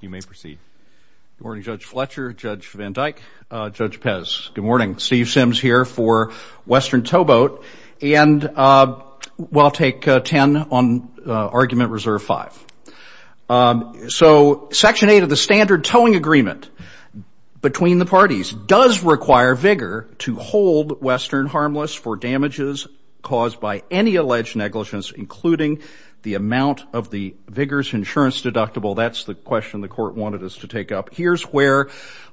You may proceed. Good morning Judge Fletcher, Judge Van Dyke, Judge Pez. Good morning. Steve Sims here for Western Towboat and we'll take 10 on argument reserve 5. So section 8 of the standard towing agreement between the parties does require Vigor to hold Western harmless for damages caused by any alleged negligence including the amount of the Vigor's insurance deductible. That's the question the court wanted us to take up. Here's where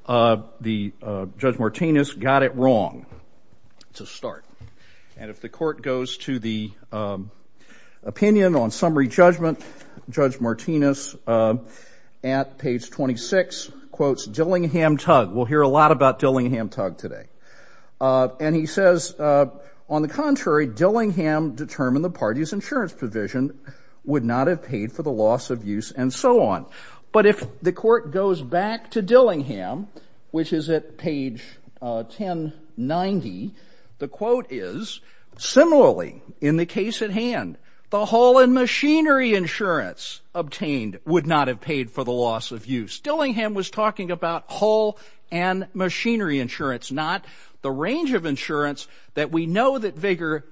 the Judge Martinez got it wrong to start and if the court goes to the opinion on summary judgment Judge Martinez at page 26 quotes Dillingham Tug. We'll hear a lot about Dillingham Tug today and he says on the contrary Dillingham determined the party's But if the court goes back to Dillingham, which is at page 1090, the quote is similarly in the case at hand, the haul and machinery insurance obtained would not have paid for the loss of use. Dillingham was talking about haul and machinery insurance not the range of insurance that we know that Vigor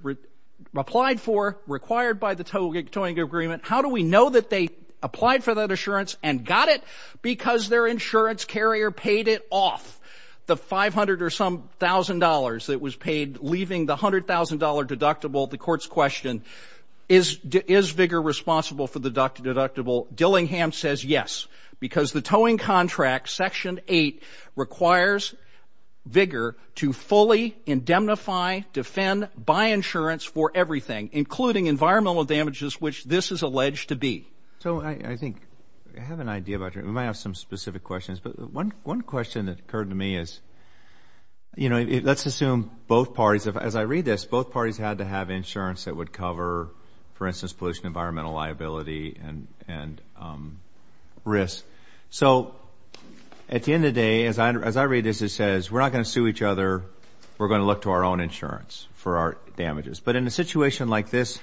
applied for required by the towing agreement. How do we know that they got it? Because their insurance carrier paid it off. The 500 or some thousand dollars that was paid leaving the $100,000 deductible. The court's question is Vigor responsible for the deductible? Dillingham says yes because the towing contract section 8 requires Vigor to fully indemnify, defend, buy insurance for everything including environmental damages which this is We might have some specific questions but one question that occurred to me is you know, let's assume both parties, as I read this, both parties had to have insurance that would cover for instance pollution environmental liability and and risk. So at the end of day, as I read this, it says we're not going to sue each other, we're going to look to our own insurance for our damages. But in a situation like this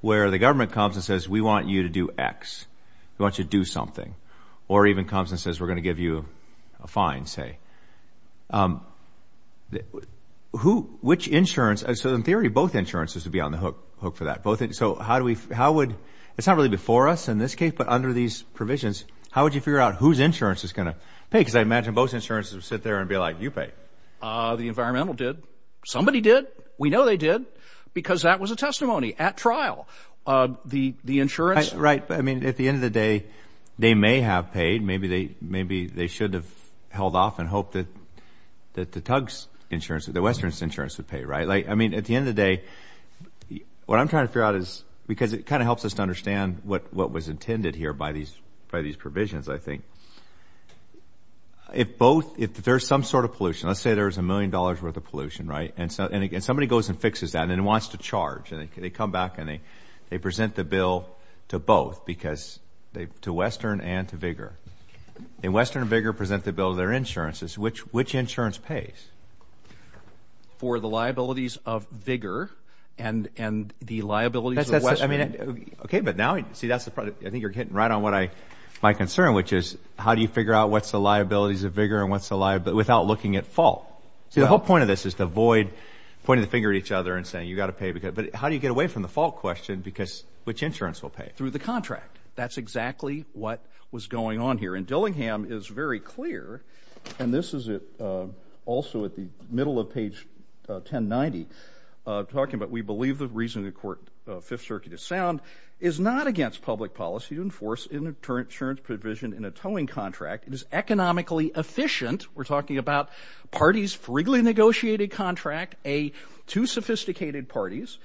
where the government comes and says we want you to do X, we want you to do something, or even comes and says we're going to give you a fine say, which insurance, so in theory both insurances would be on the hook for that. So how do we, how would, it's not really before us in this case but under these provisions, how would you figure out whose insurance is going to pay? Because I imagine both insurances would sit there and be like you pay. The environmental did. Somebody did. We know they did because that was a I mean at the end of the day, they may have paid. Maybe they maybe they should have held off and hope that that the Tugs insurance, the Western's insurance would pay, right? Like I mean at the end of the day, what I'm trying to figure out is because it kind of helps us to understand what what was intended here by these by these provisions, I think. If both, if there's some sort of pollution, let's say there's a million dollars worth of pollution, right? And so and again somebody goes and fixes that and wants to charge and they come back and they present the bill to both because they to Western and to Vigor. In Western and Vigor present the bill of their insurances. Which which insurance pays? For the liabilities of Vigor and and the liabilities of Western. I mean okay but now see that's the problem. I think you're getting right on what I my concern which is how do you figure out what's the liabilities of Vigor and what's the liability without looking at fault? See the whole point of this is to avoid pointing the finger at each other and saying you got to pay because but how do you get away from the fault question because which insurance will pay? Through the contract. That's exactly what was going on here and Dillingham is very clear and this is it also at the middle of page 1090 talking about we believe the reason the court Fifth Circuit is sound is not against public policy to enforce insurance provision in a towing contract. It is economically efficient. We're talking about parties for legally negotiated contract. A two sophisticated parties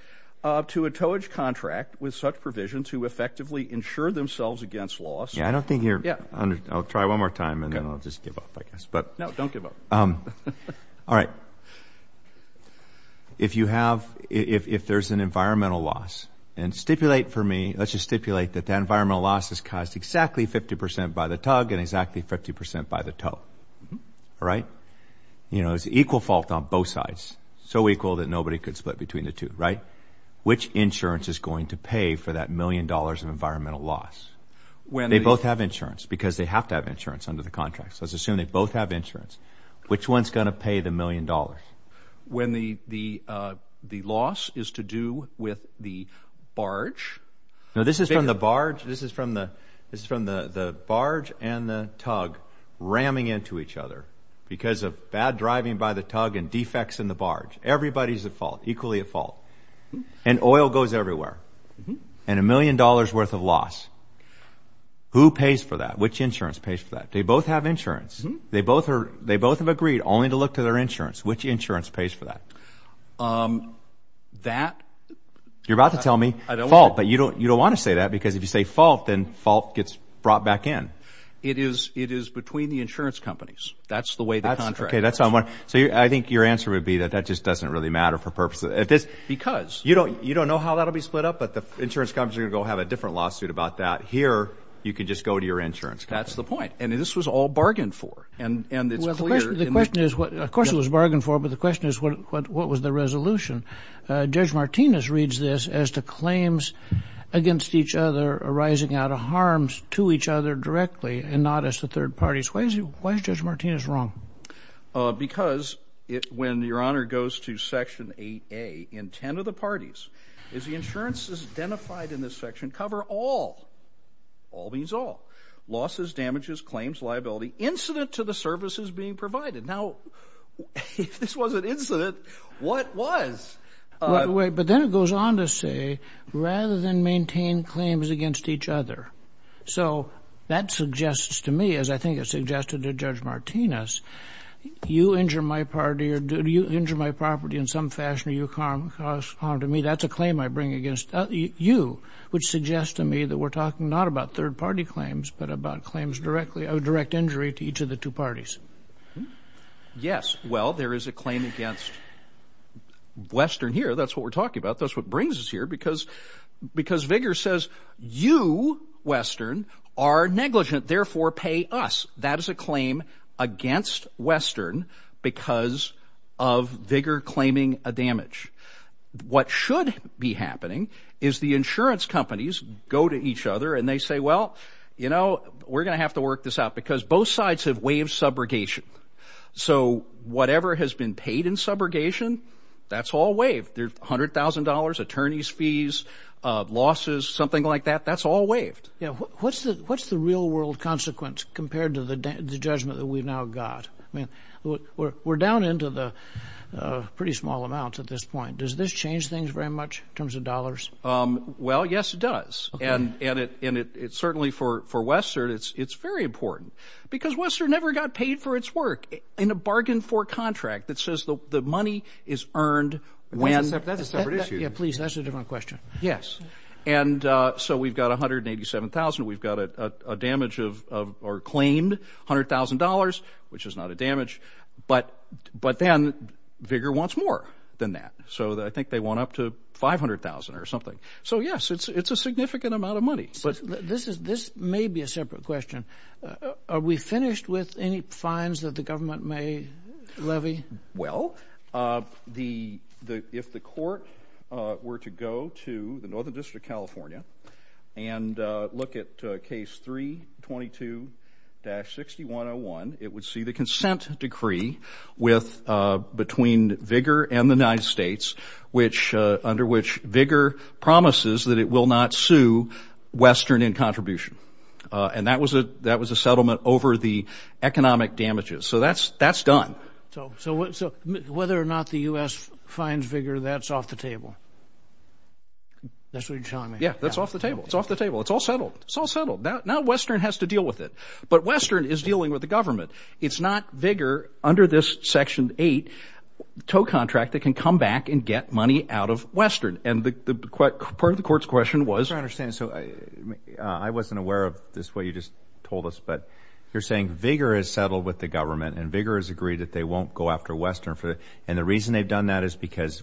to a towage contract with such provisions who effectively insure themselves against loss. Yeah I don't think you're yeah I'll try one more time and then I'll just give up I guess but no don't give up. All right if you have if there's an environmental loss and stipulate for me let's just stipulate that the environmental loss is caused exactly 50% by the tug and exactly 50% by the tow. All right you know it's equal fault on both sides. So equal that nobody could split between the two right? Which insurance is going to pay for that million dollars of environmental loss? When they both have insurance because they have to have insurance under the contract. So let's assume they both have insurance. Which one's gonna pay the million dollars? When the the the loss is to do with the barge. No this is from the barge this is from the this is from the the barge and the tug ramming into each other because of bad driving by the tug and defects in the barge. Everybody's at fault equally at fault and oil goes everywhere and a million dollars worth of loss. Who pays for that? Which insurance pays for that? They both have insurance. They both are they both have agreed only to look to their insurance. Which insurance pays for that? That you're about to tell me I don't fault but you don't you don't want to say that because if you say fault then fault gets brought back in. It is it is between the insurance companies. That's the way the contract. Okay that's not what so you I think your answer would be that that just doesn't really matter for purposes at this. Because. You don't you don't know how that'll be split up but the insurance companies are gonna go have a different lawsuit about that. Here you could just go to your insurance. That's the point and this was all bargained for and and it's clear. The question is what of course it was bargained for but the question is what what was the resolution? Judge Martinez reads this as to claims against each other arising out of harms to each other directly and not as the third parties. Why is it why is Judge Martinez wrong? Because it when your honor goes to section 8a in 10 of the parties is the insurances identified in this section cover all all means all losses damages claims liability incident to the services being provided. Now if this was an incident what was? Wait but then it goes on to say rather than So that suggests to me as I think it suggested to Judge Martinez you injure my party or do you injure my property in some fashion or you cause harm to me that's a claim I bring against you which suggests to me that we're talking not about third-party claims but about claims directly of direct injury to each of the two parties. Yes well there is a claim against Western here that's what we're talking about that's what brings us here because because vigor says you Western are negligent therefore pay us that is a claim against Western because of vigor claiming a damage. What should be happening is the insurance companies go to each other and they say well you know we're gonna have to work this out because both sides have waived subrogation so whatever has been paid in subrogation that's all waived there's $100,000 attorneys fees losses something like that that's all waived. Yeah what's the what's the real-world consequence compared to the judgment that we've now got I mean we're down into the pretty small amounts at this point does this change things very much in terms of dollars? Well yes it does and and it's certainly for for Western it's it's very important because Western never got paid for its work in a bargain for contract that says the money is earned when. That's a separate issue. Yeah please that's a question. Yes and so we've got a hundred eighty seven thousand we've got a damage of or claimed hundred thousand dollars which is not a damage but but then vigor wants more than that so that I think they want up to five hundred thousand or something so yes it's it's a significant amount of money. But this is this may be a separate question are we finished with any fines that the to the Northern District of California and look at case 322-6101 it would see the consent decree with between vigor and the United States which under which vigor promises that it will not sue Western in contribution and that was a that was a settlement over the economic damages so that's that's done. So so that's what you're telling me. Yeah that's off the table it's off the table it's all settled it's all settled now Western has to deal with it but Western is dealing with the government it's not vigor under this section 8 tow contract that can come back and get money out of Western and the part of the court's question was. I understand so I wasn't aware of this way you just told us but you're saying vigor is settled with the government and vigor is agreed that they won't go after Western for it and the reason they've done that is because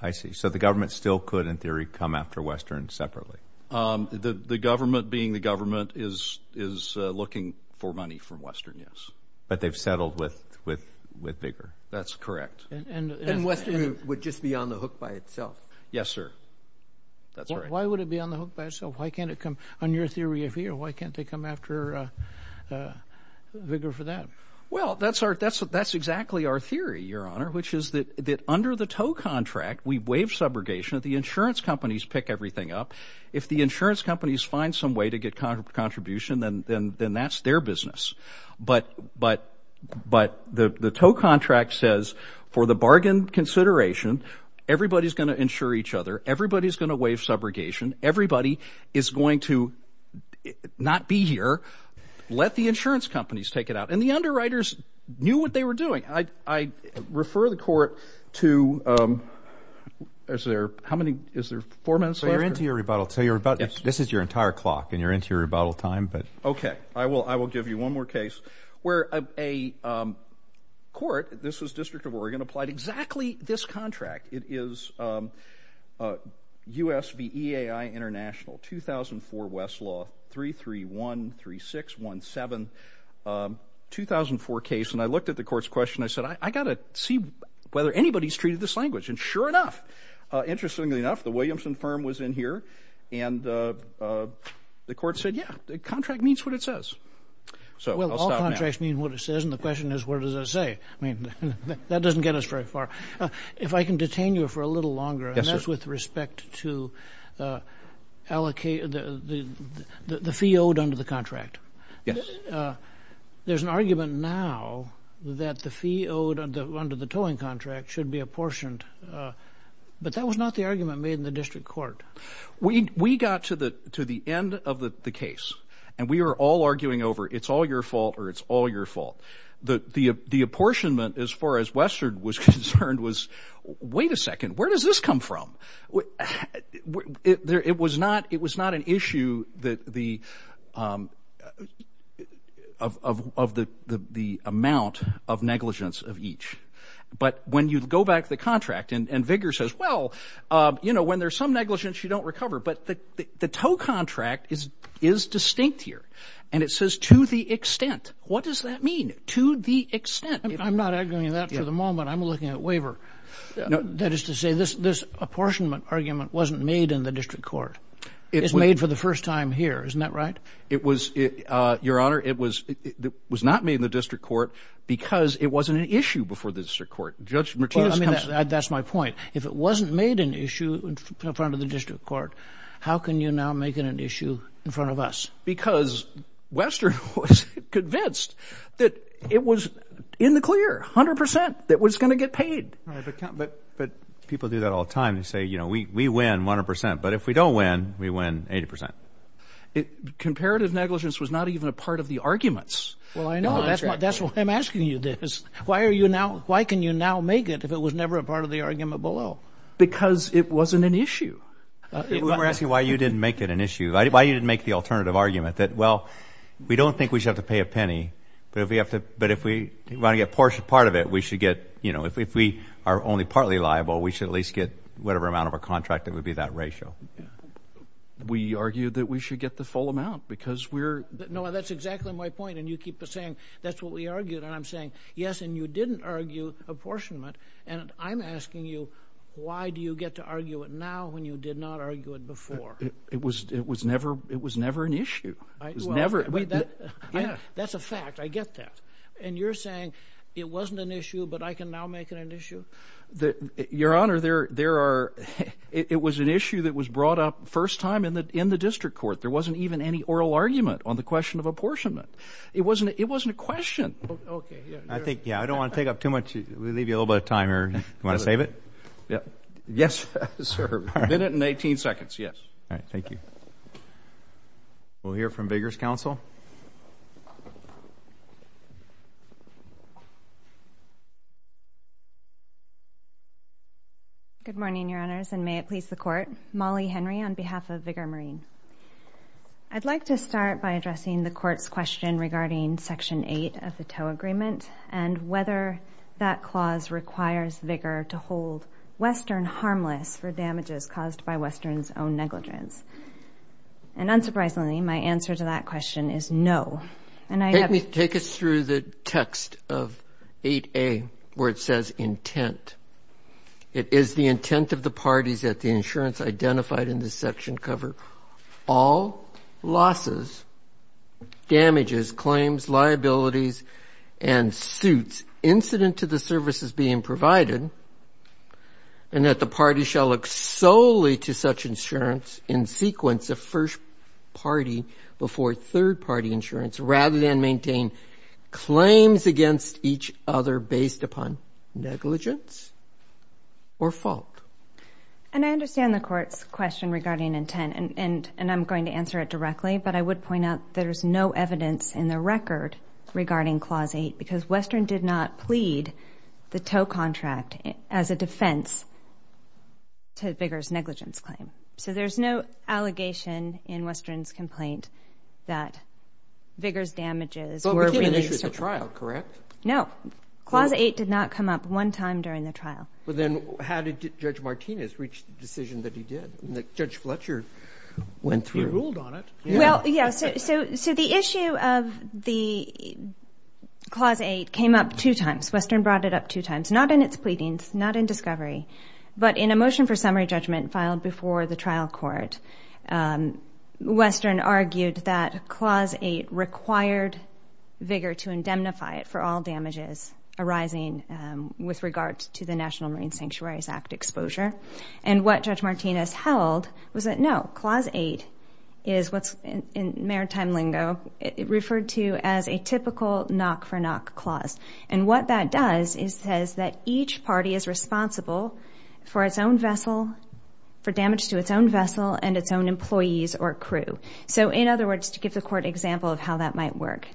I see so the government still could in theory come after Western separately. The the government being the government is is looking for money from Western yes. But they've settled with with with vigor. That's correct. And Western would just be on the hook by itself. Yes sir. That's right. Why would it be on the hook by itself why can't it come on your theory of here why can't they come after vigor for that? Well that's our that's what that's exactly our theory your honor which is that that under the tow contract we waive subrogation at the insurance companies pick everything up if the insurance companies find some way to get kind of contribution then then then that's their business but but but the the tow contract says for the bargain consideration everybody's gonna insure each other everybody's gonna waive subrogation everybody is going to not be here let the insurance companies take it out and the underwriters knew what they were doing I refer the court to is there how many is there four minutes later into your rebuttal so you're about this is your entire clock and you're into your rebuttal time but okay I will I will give you one more case where a court this is District of Oregon applied exactly this contract it is USVEAI International 2004 Westlaw 3313617 2004 case and I looked at the court's question I said I got to see whether anybody's treated this language and sure enough interestingly enough the Williamson firm was in here and the court said yeah the contract means what it says so I mean what it says and the question is what does it say I mean that doesn't get us very far if I can detain you for a little longer that's with respect to allocate the fee under the contract yes there's an argument now that the fee owed under the towing contract should be apportioned but that was not the argument made in the district court we we got to the to the end of the case and we were all arguing over it's all your fault or it's all your fault the the the apportionment as far as Western was concerned was wait a second where does this come from what it was not it was not an issue that the of the the amount of negligence of each but when you go back to the contract and vigor says well you know when there's some negligence you don't recover but the the tow contract is is distinct here and it says to the extent what does that mean to the extent I'm not arguing that for the moment I'm looking at waiver that is to say this this apportionment argument wasn't made in the district court it is made for the first time here isn't that right it was it your honor it was it was not made in the district court because it wasn't an issue before the district court judge Martinez I mean that's my point if it wasn't made an issue in front of the district court how can you now make it an issue in front of us because Western was convinced that it was in the clear hundred percent that but people do that all the time they say you know we win 100% but if we don't win we win 80% it comparative negligence was not even a part of the arguments well I know that's what I'm asking you this why are you now why can you now make it if it was never a part of the argument below because it wasn't an issue we're asking why you didn't make it an issue I didn't make the alternative argument that well we don't think we should have to pay a penny but if we have to but if we want to get portion part of it we should get you know if we are only partly liable we should at least get whatever amount of a contract it would be that ratio we argued that we should get the full amount because we're no that's exactly my point and you keep saying that's what we argued and I'm saying yes and you didn't argue apportionment and I'm asking you why do you get to argue it now when you did not argue it before it was it was never it never wait that yeah that's a fact I get that and you're saying it wasn't an issue but I can now make it an issue that your honor there there are it was an issue that was brought up first time in the in the district court there wasn't even any oral argument on the question of apportionment it wasn't it wasn't a question I think yeah I don't want to take up too much we leave you a little bit of time or you want to save it yeah yes sir minute and 18 seconds yes all right thank you we'll hear from Vigors counsel good morning your honors and may it please the court Molly Henry on behalf of vigor marine I'd like to start by addressing the court's question regarding section 8 of the tow agreement and whether that clause requires vigor to hold Western harmless for damages caused by Western's own negligence and unsurprisingly my answer to that question is no and I let me take us through the text of 8a where it says intent it is the intent of the parties that the insurance identified in this section cover all losses damages claims liabilities and suits incident to the services being provided and that the party shall look solely to such insurance in sequence of first party before third party insurance rather than maintain claims against each other based upon negligence or fault and I understand the courts question regarding intent and and and I'm going to answer it directly but I would point out there's no evidence in the record regarding clause 8 because Western did not plead the tow contract as a defense to Vigors negligence claim so there's no allegation in Western's complaint that Vigors damages or trial correct no clause 8 did not come up one time during the trial but then how did judge Martinez reach the decision that he did the judge Fletcher went through well yes so so the issue of the clause 8 came up two times Western brought it up two times not in its pleadings not in discovery but in a motion for summary judgment filed before the trial court Western argued that clause 8 required vigor to indemnify it for all damages arising with regards to the National Marine Sanctuaries Act exposure and what judge Martinez held was that no clause 8 is what's in maritime lingo it referred to as a typical knock-for-knock clause and what that does is says that each party is responsible for its own vessel for damage to its own vessel and its own employees or crew so in other words to give the court example of how that might work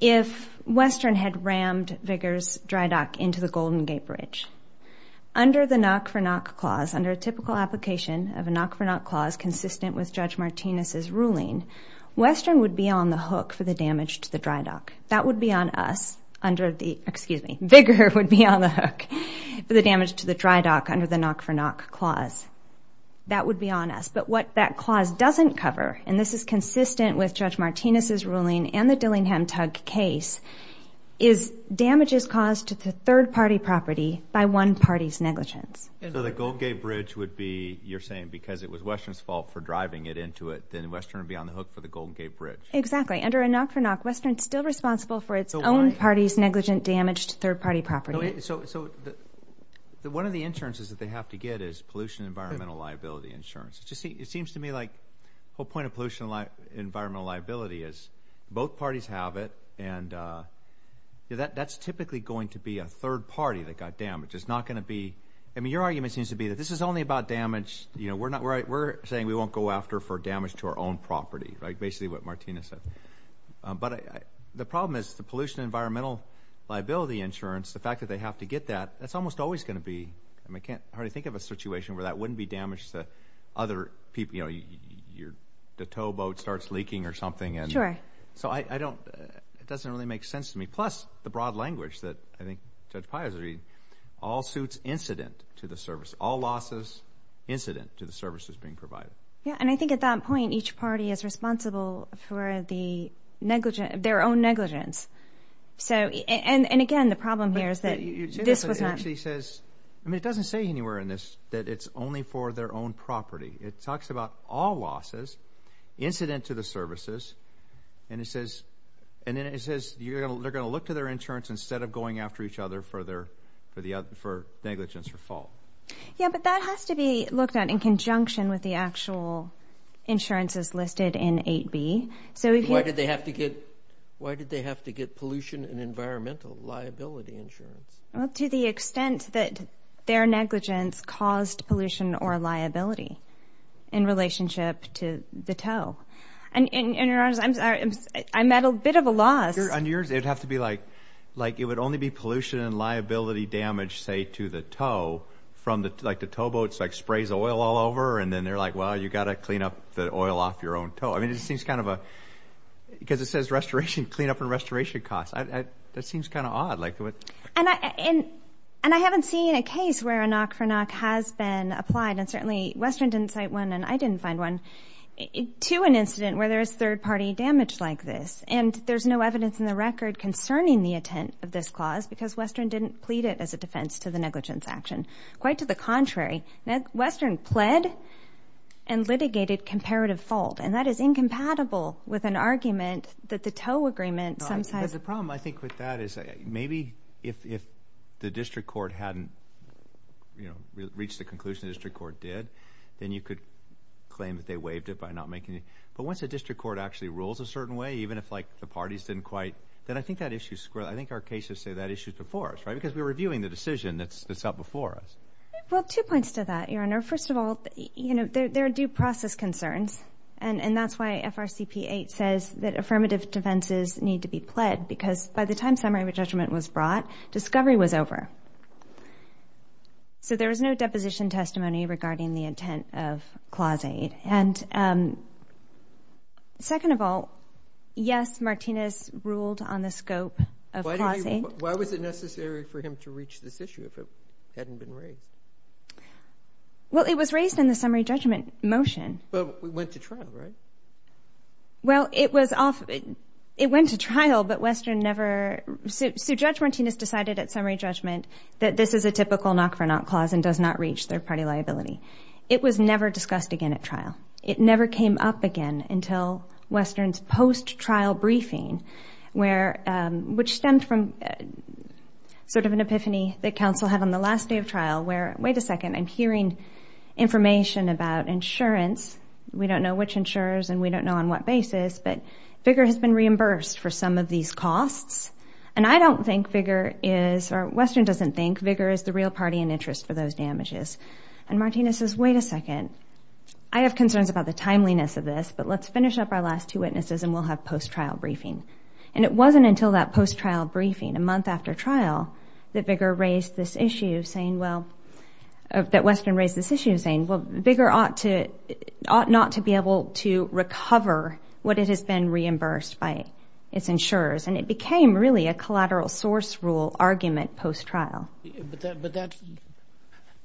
if Western had rammed Vigors dry bridge under the knock-for-knock clause under a typical application of a knock-for-knock clause consistent with judge Martinez's ruling Western would be on the hook for the damage to the dry dock that would be on us under the excuse me Vigor would be on the hook for the damage to the dry dock under the knock-for-knock clause that would be on us but what that clause doesn't cover and this is consistent with judge Martinez's ruling and the Dillingham case is damages caused to the third-party property by one party's negligence and so the Gold Gate Bridge would be you're saying because it was Western's fault for driving it into it then Western would be on the hook for the Gold Gate Bridge exactly under a knock-for-knock Western still responsible for its own parties negligent damage to third-party property so so the one of the insurances that they have to get is pollution environmental liability insurance just see it seems to me like whole point of environmental liability is both parties have it and that's typically going to be a third party that got damaged it's not going to be I mean your argument seems to be that this is only about damage you know we're not right we're saying we won't go after for damage to our own property right basically what Martina said but the problem is the pollution environmental liability insurance the fact that they have to get that that's almost always going to be I mean I can't hardly think of a situation where that wouldn't be damaged the other people you the towboat starts leaking or something and sure so I don't it doesn't really make sense to me plus the broad language that I think Judge Pius all suits incident to the service all losses incident to the services being provided yeah and I think at that point each party is responsible for the negligent their own negligence so and and again the problem here is that this was actually says I mean it doesn't say anywhere in this that it's only for their own property it all losses incident to the services and it says and then it says you're gonna they're gonna look to their insurance instead of going after each other for their for the other for negligence or fault yeah but that has to be looked at in conjunction with the actual insurances listed in 8b so why did they have to get why did they have to get pollution and environmental liability insurance well to the extent that their negligence caused pollution or liability in relationship to the tow and in your arms I'm sorry I'm at a bit of a loss on yours they'd have to be like like it would only be pollution and liability damage say to the tow from the like the towboats like sprays oil all over and then they're like well you got to clean up the oil off your own toe I mean it seems kind of a because it says restoration clean up and restoration costs I that seems kind of odd like what and I and and I haven't seen a case where a knock-for-knock has been applied and certainly Western didn't cite one and I didn't find one to an incident where there is third-party damage like this and there's no evidence in the record concerning the intent of this clause because Western didn't plead it as a defense to the negligence action quite to the contrary now Western pled and litigated comparative fault and that is incompatible with an argument that the tow agreement sometimes the problem I think with that is maybe if the district court hadn't you know reach the conclusion district court did then you could claim that they waived it by not making it but once a district court actually rules a certain way even if like the parties didn't quite then I think that issue square I think our cases say that issues before us right because we were viewing the decision that's that's up before us well two points to that your honor first of all you know there are due process concerns and and that's why FRCP 8 says that by the time summary of a judgment was brought discovery was over so there was no deposition testimony regarding the intent of Clause 8 and second of all yes Martinez ruled on the scope of why was it necessary for him to reach this issue if it hadn't been raised well it was raised in the summary judgment motion but we went to trial right well it was off it went to trial but Western never sued judge Martinez decided at summary judgment that this is a typical knock for not clause and does not reach third-party liability it was never discussed again at trial it never came up again until Western's post trial briefing where which stemmed from sort of an epiphany that council had on the last day of trial where wait a second I'm hearing information about insurance we don't know which insurers and we don't know on what basis but bigger has been reimbursed for some of these costs and I don't think bigger is our Western doesn't think bigger is the real party in interest for those damages and Martinez's wait a second I have concerns about the timeliness of this but let's finish up our last two witnesses and we'll have post trial briefing and it wasn't until that post trial briefing a month after trial that bigger raised this issue saying well that Western raised this issue saying well bigger ought to ought not to be able to recover what it has been reimbursed by its insurers and it became really a collateral source rule argument post trial but that but that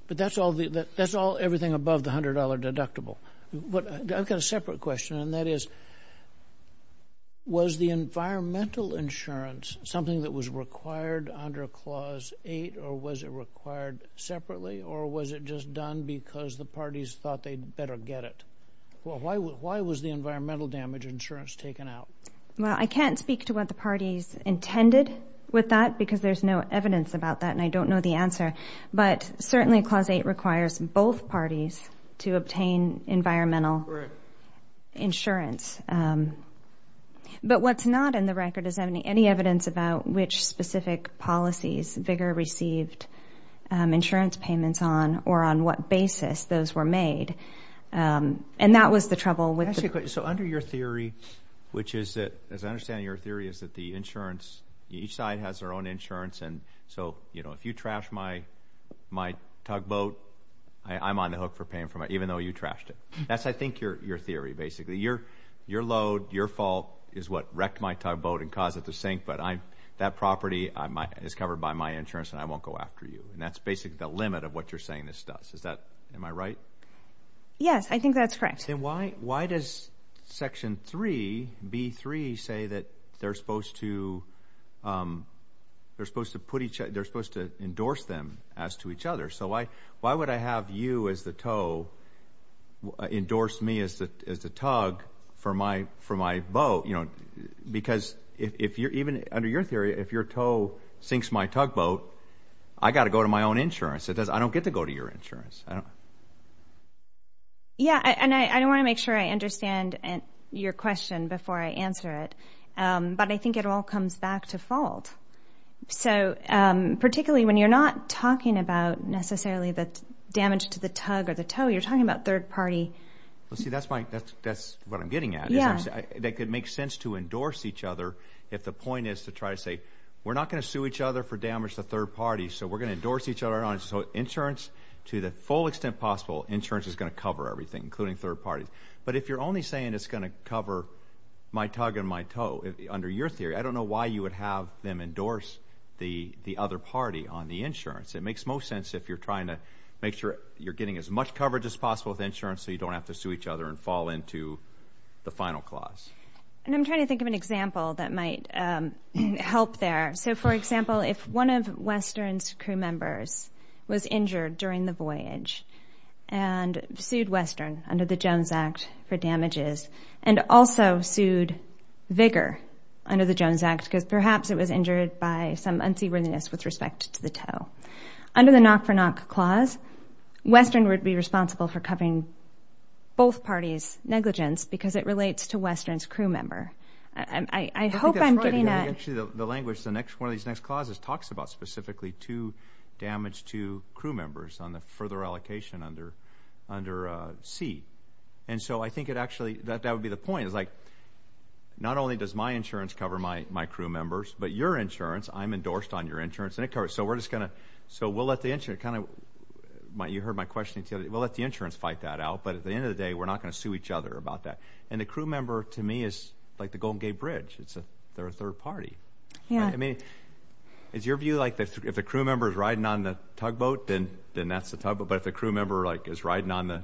but that's all the that that's all everything above the hundred dollar deductible what I've got a separate question and that is was the environmental insurance something that was required under clause eight or was just done because the parties thought they'd better get it well why why was the environmental damage insurance taken out well I can't speak to what the parties intended with that because there's no evidence about that and I don't know the answer but certainly clause eight requires both parties to obtain environmental insurance but what's not in the record is any any evidence about which specific policies bigger received insurance payments on or on what basis those were made and that was the trouble with so under your theory which is that as I understand your theory is that the insurance each side has their own insurance and so you know if you trash my my tugboat I'm on the hook for paying for it even though you trashed it that's I think your your theory basically your your load your fault is what wrecked my tugboat and cause it to sink but I'm that property I might is covered by my insurance and I won't go after you and that's basically the limit of what you're saying this is that am I right yes I think that's correct and why why does section 3b 3 say that they're supposed to they're supposed to put each other they're supposed to endorse them as to each other so why why would I have you as the toe endorsed me as the tug for my for my boat you know because if you're even under your theory if your toe sinks my tugboat I got to go to my own insurance it does I don't get to go to your insurance I don't yeah and I don't want to make sure I understand and your question before I answer it but I think it all comes back to fault so particularly when you're not talking about necessarily that damage to the tug or the tow you're talking about third party let's see that's my that's that's what I'm getting at yeah that could make sense to endorse each other if the point is to try to say we're not going to sue each other for damage the third party so we're going to endorse each other on it so insurance to the full extent possible insurance is going to cover everything including third parties but if you're only saying it's going to cover my tug and my toe under your theory I don't know why you would have them endorse the the other party on the insurance it makes most sense if you're trying to make sure you're getting as much coverage as possible with insurance so you don't have to sue each other and fall into the final clause and I'm trying to think of an example that might help there so for example if one of Western's crew members was injured during the voyage and sued Western under the Jones Act for damages and also sued vigor under the Jones Act because perhaps it was injured by some unseaworthiness with respect to the tow under the knock-for- knock clause Western would be responsible for covering both parties negligence because it relates to Western's crew member and I hope I'm getting that the language the next one of these next clauses talks about specifically to damage to crew members on the further allocation under under C and so I think it actually that that would be the point is like not only does my insurance cover my my crew members but your insurance I'm endorsed on your insurance and it covers so we're just gonna so we'll let the engine kind of might you heard my question until we'll let the insurance fight that out but at the end of the day we're not going to sue each other about that and the crew member to me is like the Golden Gate Bridge it's a third party yeah I mean it's your view like this if the crew member is riding on the tugboat then then that's the tugboat but if the crew member like is riding on the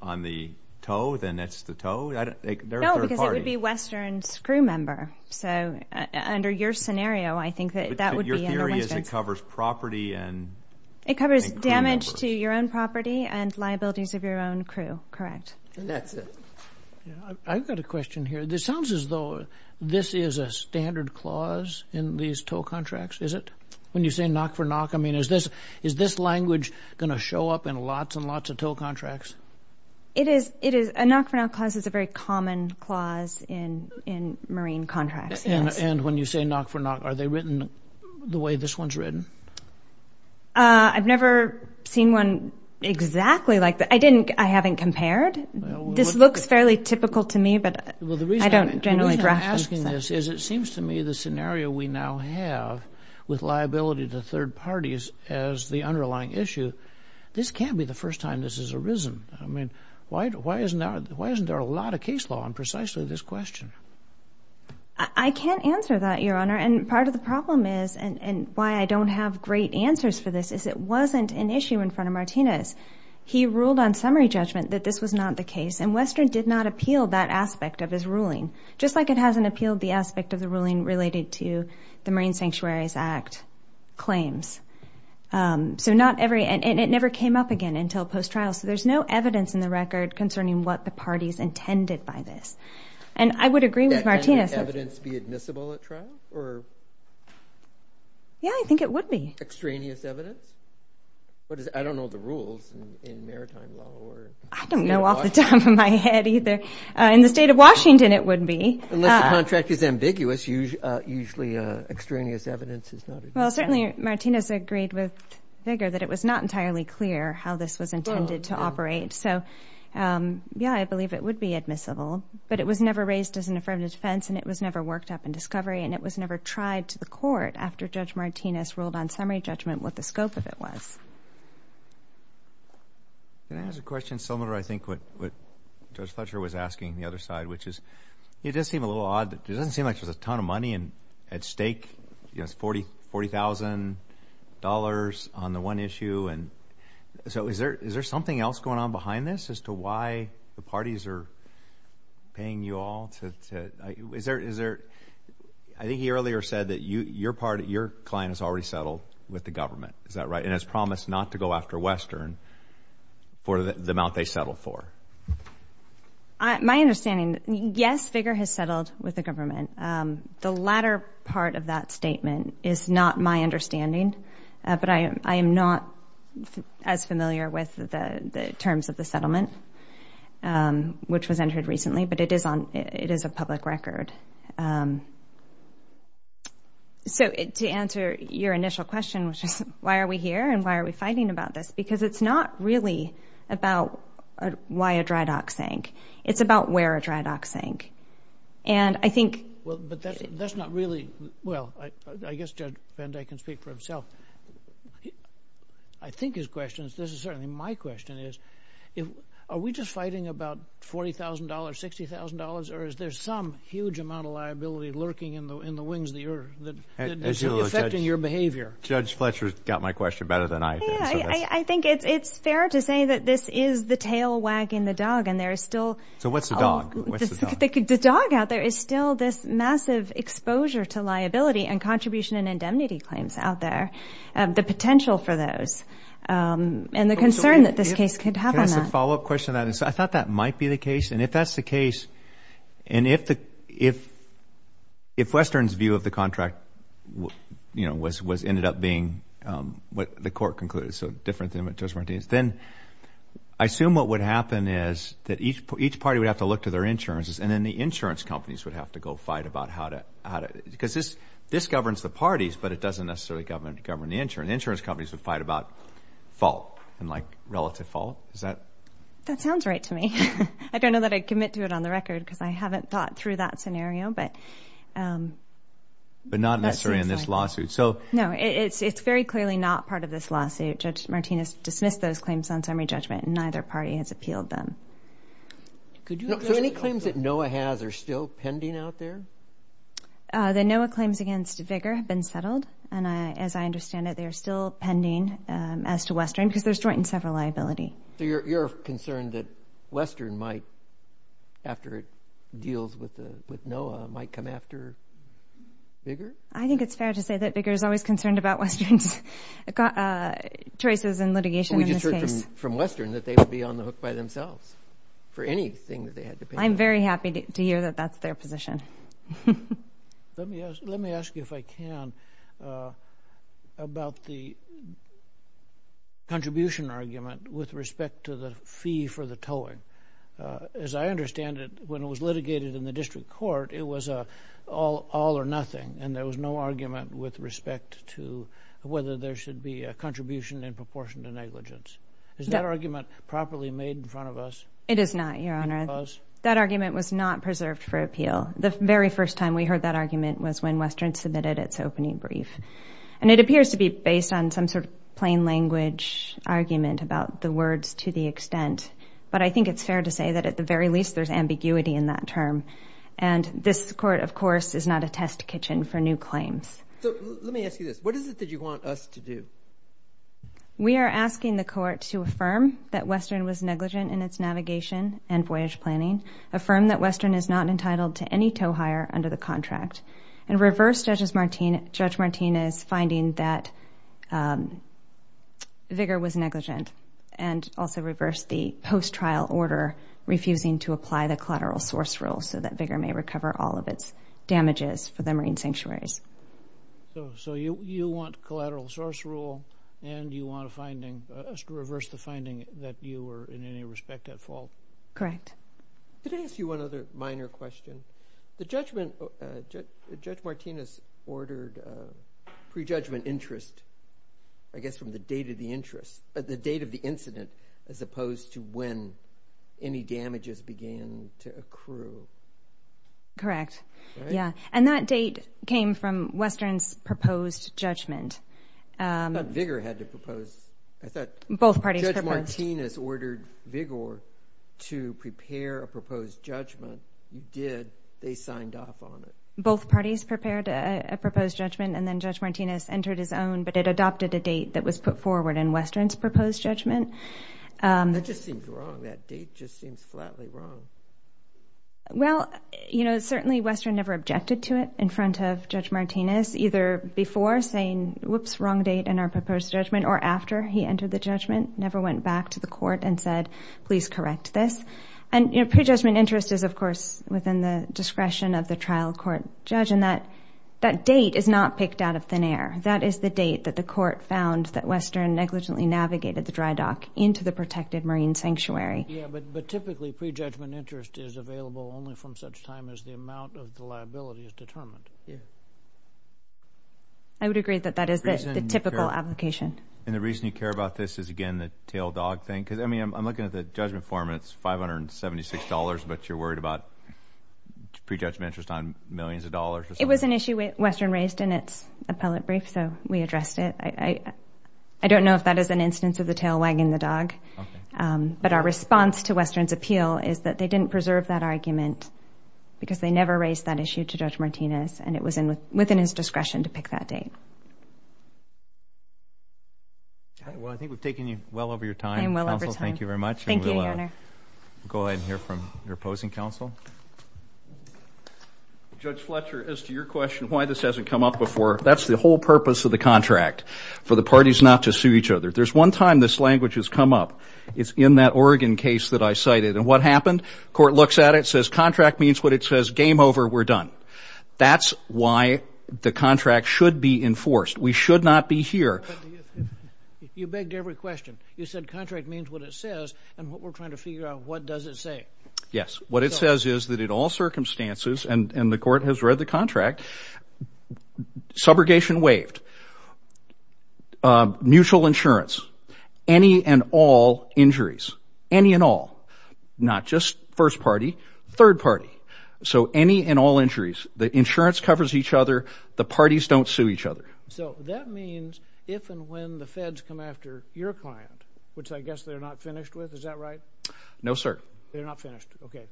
on the tow then that's the tow it would be Western's crew member so under your scenario I think that that would be your theory is it covers property and it covers damage to your own property and liabilities of your own crew correct that's it I've got a question here this sounds as though this is a standard clause in these tow contracts is it when you say knock for knock I mean is this is this language gonna show up in lots and lots of tow contracts it is it is a knock-for-knock cause it's a very common clause in in marine contracts and and when you say knock for knock are they written the way this one's written I've never seen one exactly like that I didn't I haven't compared this looks fairly typical to me but I don't generally ask this is it seems to me the scenario we now have with liability to third parties as the underlying issue this can't be the first time this has arisen I mean why why isn't that why isn't there a lot of case law on precisely this question I can't answer that your honor and part of the problem is and and why I don't have great answers for this is it wasn't an issue in front of Martinez he ruled on summary judgment that this was not the case and Western did not appeal that aspect of his ruling just like it hasn't appealed the aspect of the ruling related to the Marine Sanctuaries Act claims so not every and it never came up again until post-trial so there's no evidence in the record concerning what the parties intended by this and I would agree with Martinez evidence be admissible at trial or yeah I think it would be extraneous evidence but I don't know the rules I don't know off the top of my head either in the state of Washington it would be contract is ambiguous usually extraneous evidence is not well certainly Martinez agreed with vigor that it was not entirely clear how this was intended to operate so yeah I believe it would be admissible but it was never raised as an affirmative defense and it was never worked up in discovery and it was never tried to the court after judge Martinez ruled on the scope of it was there's a question similar I think what what judge Fletcher was asking the other side which is it does seem a little odd it doesn't seem like there's a ton of money and at stake yes forty forty thousand dollars on the one issue and so is there is there something else going on behind this as to why the parties are paying you all to is there is there I think he earlier said that you your part of your client has already settled with the government is that right and has promised not to go after Western for the amount they settled for my understanding yes vigor has settled with the government the latter part of that statement is not my understanding but I am NOT as familiar with the terms of the settlement which was entered recently but it is on it is a public record so it to answer your initial question which is why are we here and why are we fighting about this because it's not really about why a dry dock sank it's about where a dry dock sank and I think well but that's not really well I guess judge and I can speak for himself I think his questions this is certainly my question is if are we just fighting about $40,000 $60,000 or is there some huge amount of liability lurking in the in the wings that you're affecting your behavior judge Fletcher's got my question better than I I think it's it's fair to say that this is the tail wagging the dog and there is still so what's the dog the dog out there is still this massive exposure to liability and contribution and indemnity claims out there the potential for those and the concern that this case could have a follow-up question that is I thought that might be the case and if that's the case and if the if if Western's view of the contract you know was was ended up being what the court concluded so different than what just Martinez then I assume what would happen is that each for each party would have to look to their insurances and then the insurance companies would have to go fight about how to how to because this this governs the parties but it doesn't necessarily government govern the insurance insurance companies would fight about fault and like relative fault is that sounds right to me I don't know that I commit to it on the record because I haven't thought through that scenario but but not necessary in this lawsuit so no it's it's very clearly not part of this lawsuit judge Martinez dismissed those claims on summary judgment and neither party has appealed them could you know any claims that Noah has are still pending out there then Noah claims against vigor have been settled and I as I understand it they are still pending as to Western because there's joint and several liability you're concerned that Western might after it deals with the with Noah might come after bigger I think it's fair to say that bigger is always concerned about Western's got choices and litigation we just heard from Western that they would be on the hook by themselves for anything that they had to pay I'm very happy to hear that that's their position let me ask you if I can about the contribution argument with respect to the fee for the towing as I understand it when it was litigated in the district court it was a all all or nothing and there was no argument with respect to whether there should be a contribution in proportion to negligence is that argument properly made in front of us it is not your honor that argument was not preserved for appeal the very first time we heard that argument was when Western submitted its opening brief and it appears to be based on some sort of plain language argument about the words to the extent but I think it's fair to say that at the very least there's ambiguity in that term and this court of course is not a test kitchen for new claims we are asking the court to affirm that Western was negligent in its navigation and voyage planning affirm that Western is not entitled to any tow hire under the contract and reverse judges Martina judge Martinez finding that vigor was negligent and also reverse the post trial order refusing to apply the collateral source rule so that bigger may recover all of its damages for the marine sanctuaries so you you want collateral source rule and you want a did I ask you one other minor question the judgment judge Martinez ordered prejudgment interest I guess from the date of the interest but the date of the incident as opposed to when any damages began to accrue correct yeah and that date came from Western's proposed judgment but vigor had to propose I did they signed up on it both parties prepared a proposed judgment and then judge Martinez entered his own but it adopted a date that was put forward in Westerns proposed judgment well you know certainly Western never objected to it in front of judge Martinez either before saying whoops wrong date and our proposed judgment or after he entered the judgment never went back to the pre-judgment interest is of course within the discretion of the trial court judge and that that date is not picked out of thin air that is the date that the court found that Western negligently navigated the dry dock into the protected marine sanctuary I would agree that that is the typical application and the reason you care about this is again the tail dog thing because I mean I'm $576 but you're worried about pre-judgment interest on millions of dollars it was an issue with Western raised in its appellate brief so we addressed it I I don't know if that is an instance of the tail wagging the dog but our response to Western's appeal is that they didn't preserve that argument because they never raised that issue to judge Martinez and it was in within his discretion to pick that date well I think we've taken you well over your time well thank you very much go ahead and hear from your opposing counsel judge Fletcher is to your question why this hasn't come up before that's the whole purpose of the contract for the parties not to sue each other there's one time this language has come up it's in that Oregon case that I cited and what happened court looks at it says contract means what it says game over we're done that's why the contract should be enforced we should not be here you begged every question you said and what we're trying to figure out what does it say yes what it says is that in all circumstances and and the court has read the contract subrogation waived mutual insurance any and all injuries any and all not just first party third party so any and all injuries the insurance covers each other the parties don't sue each other so that means if and when the feds come after your client which I guess they're not finished with is that right no sir they're not finished okay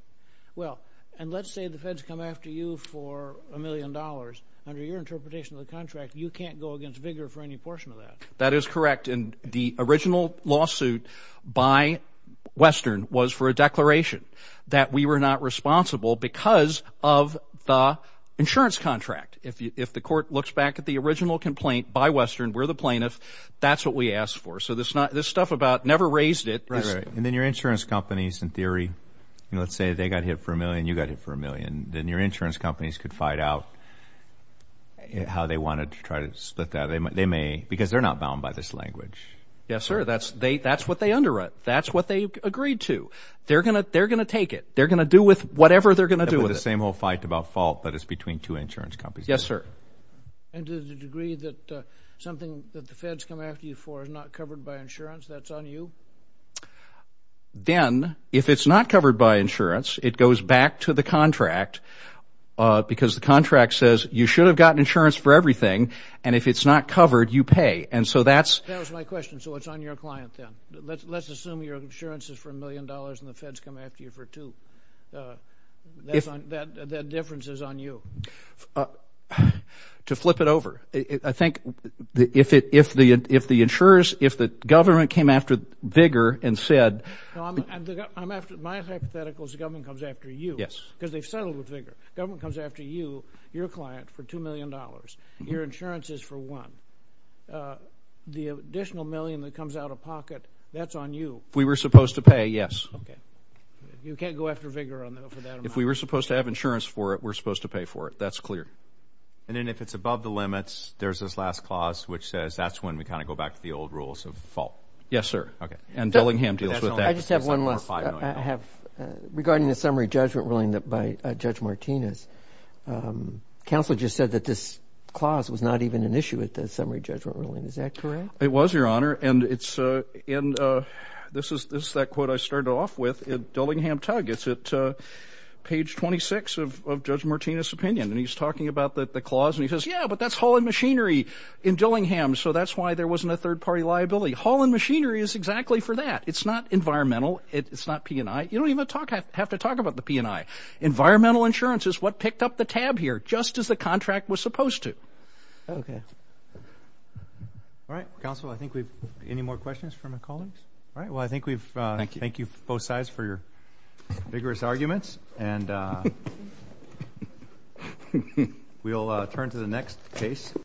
well and let's say the feds come after you for a million dollars under your interpretation of the contract you can't go against vigor for any portion of that that is correct in the original lawsuit by Western was for a declaration that we were not responsible because of the insurance contract if you if the court looks back at the original complaint by Western where the plaintiff that's what we asked for so this not this stuff about never raised it right and then your insurance companies in theory let's say they got hit for a million you got it for a million then your insurance companies could fight out how they wanted to try to split that they might they may because they're not bound by this language yes sir that's they that's what they underwrite that's what they agreed to they're gonna they're gonna take it they're gonna do with whatever they're gonna do with the same whole fight about fault but it's between two insurance companies yes sir then if it's not covered by insurance it goes back to the contract because the contract says you should have gotten insurance for everything and if it's not covered you pay and so that's my question so it's on your client then let's assume your insurance is for a million dollars and the feds come after you for two if that difference is on you to flip it over I think if it if the if the insurers if the government came after vigor and said hypotheticals the government comes after you yes because they've settled with vigor government comes after you your client for two million dollars your insurance is for one the additional million that comes out of pocket that's on you we were supposed to pay yes okay you can't go after vigor on them if we were supposed to have insurance for it we're supposed to pay for it that's clear and then if it's above the limits there's this last clause which says that's when we kind of go back to the old rules of fault yes sir okay and Dillingham deals with that I just have one less I have regarding the summary judgment ruling that by judge Martinez counsel just said that this clause was not even an issue at the summary judgment ruling is that correct it was your honor and it's in this is this that quote I started off with in Dillingham tug it's at page 26 of judge Martinez opinion and he's talking about that the clause and he says yeah but that's hauling machinery in Dillingham so that's why there wasn't a third-party liability hauling machinery is exactly for that it's not environmental it's not P&I you don't even talk I have to talk about the P&I environmental insurance is what picked up the tab here just as the contract was supposed to okay all right counsel I think we've any more questions all right well I think we've thank you thank you both sides for your vigorous arguments and we'll turn to the next case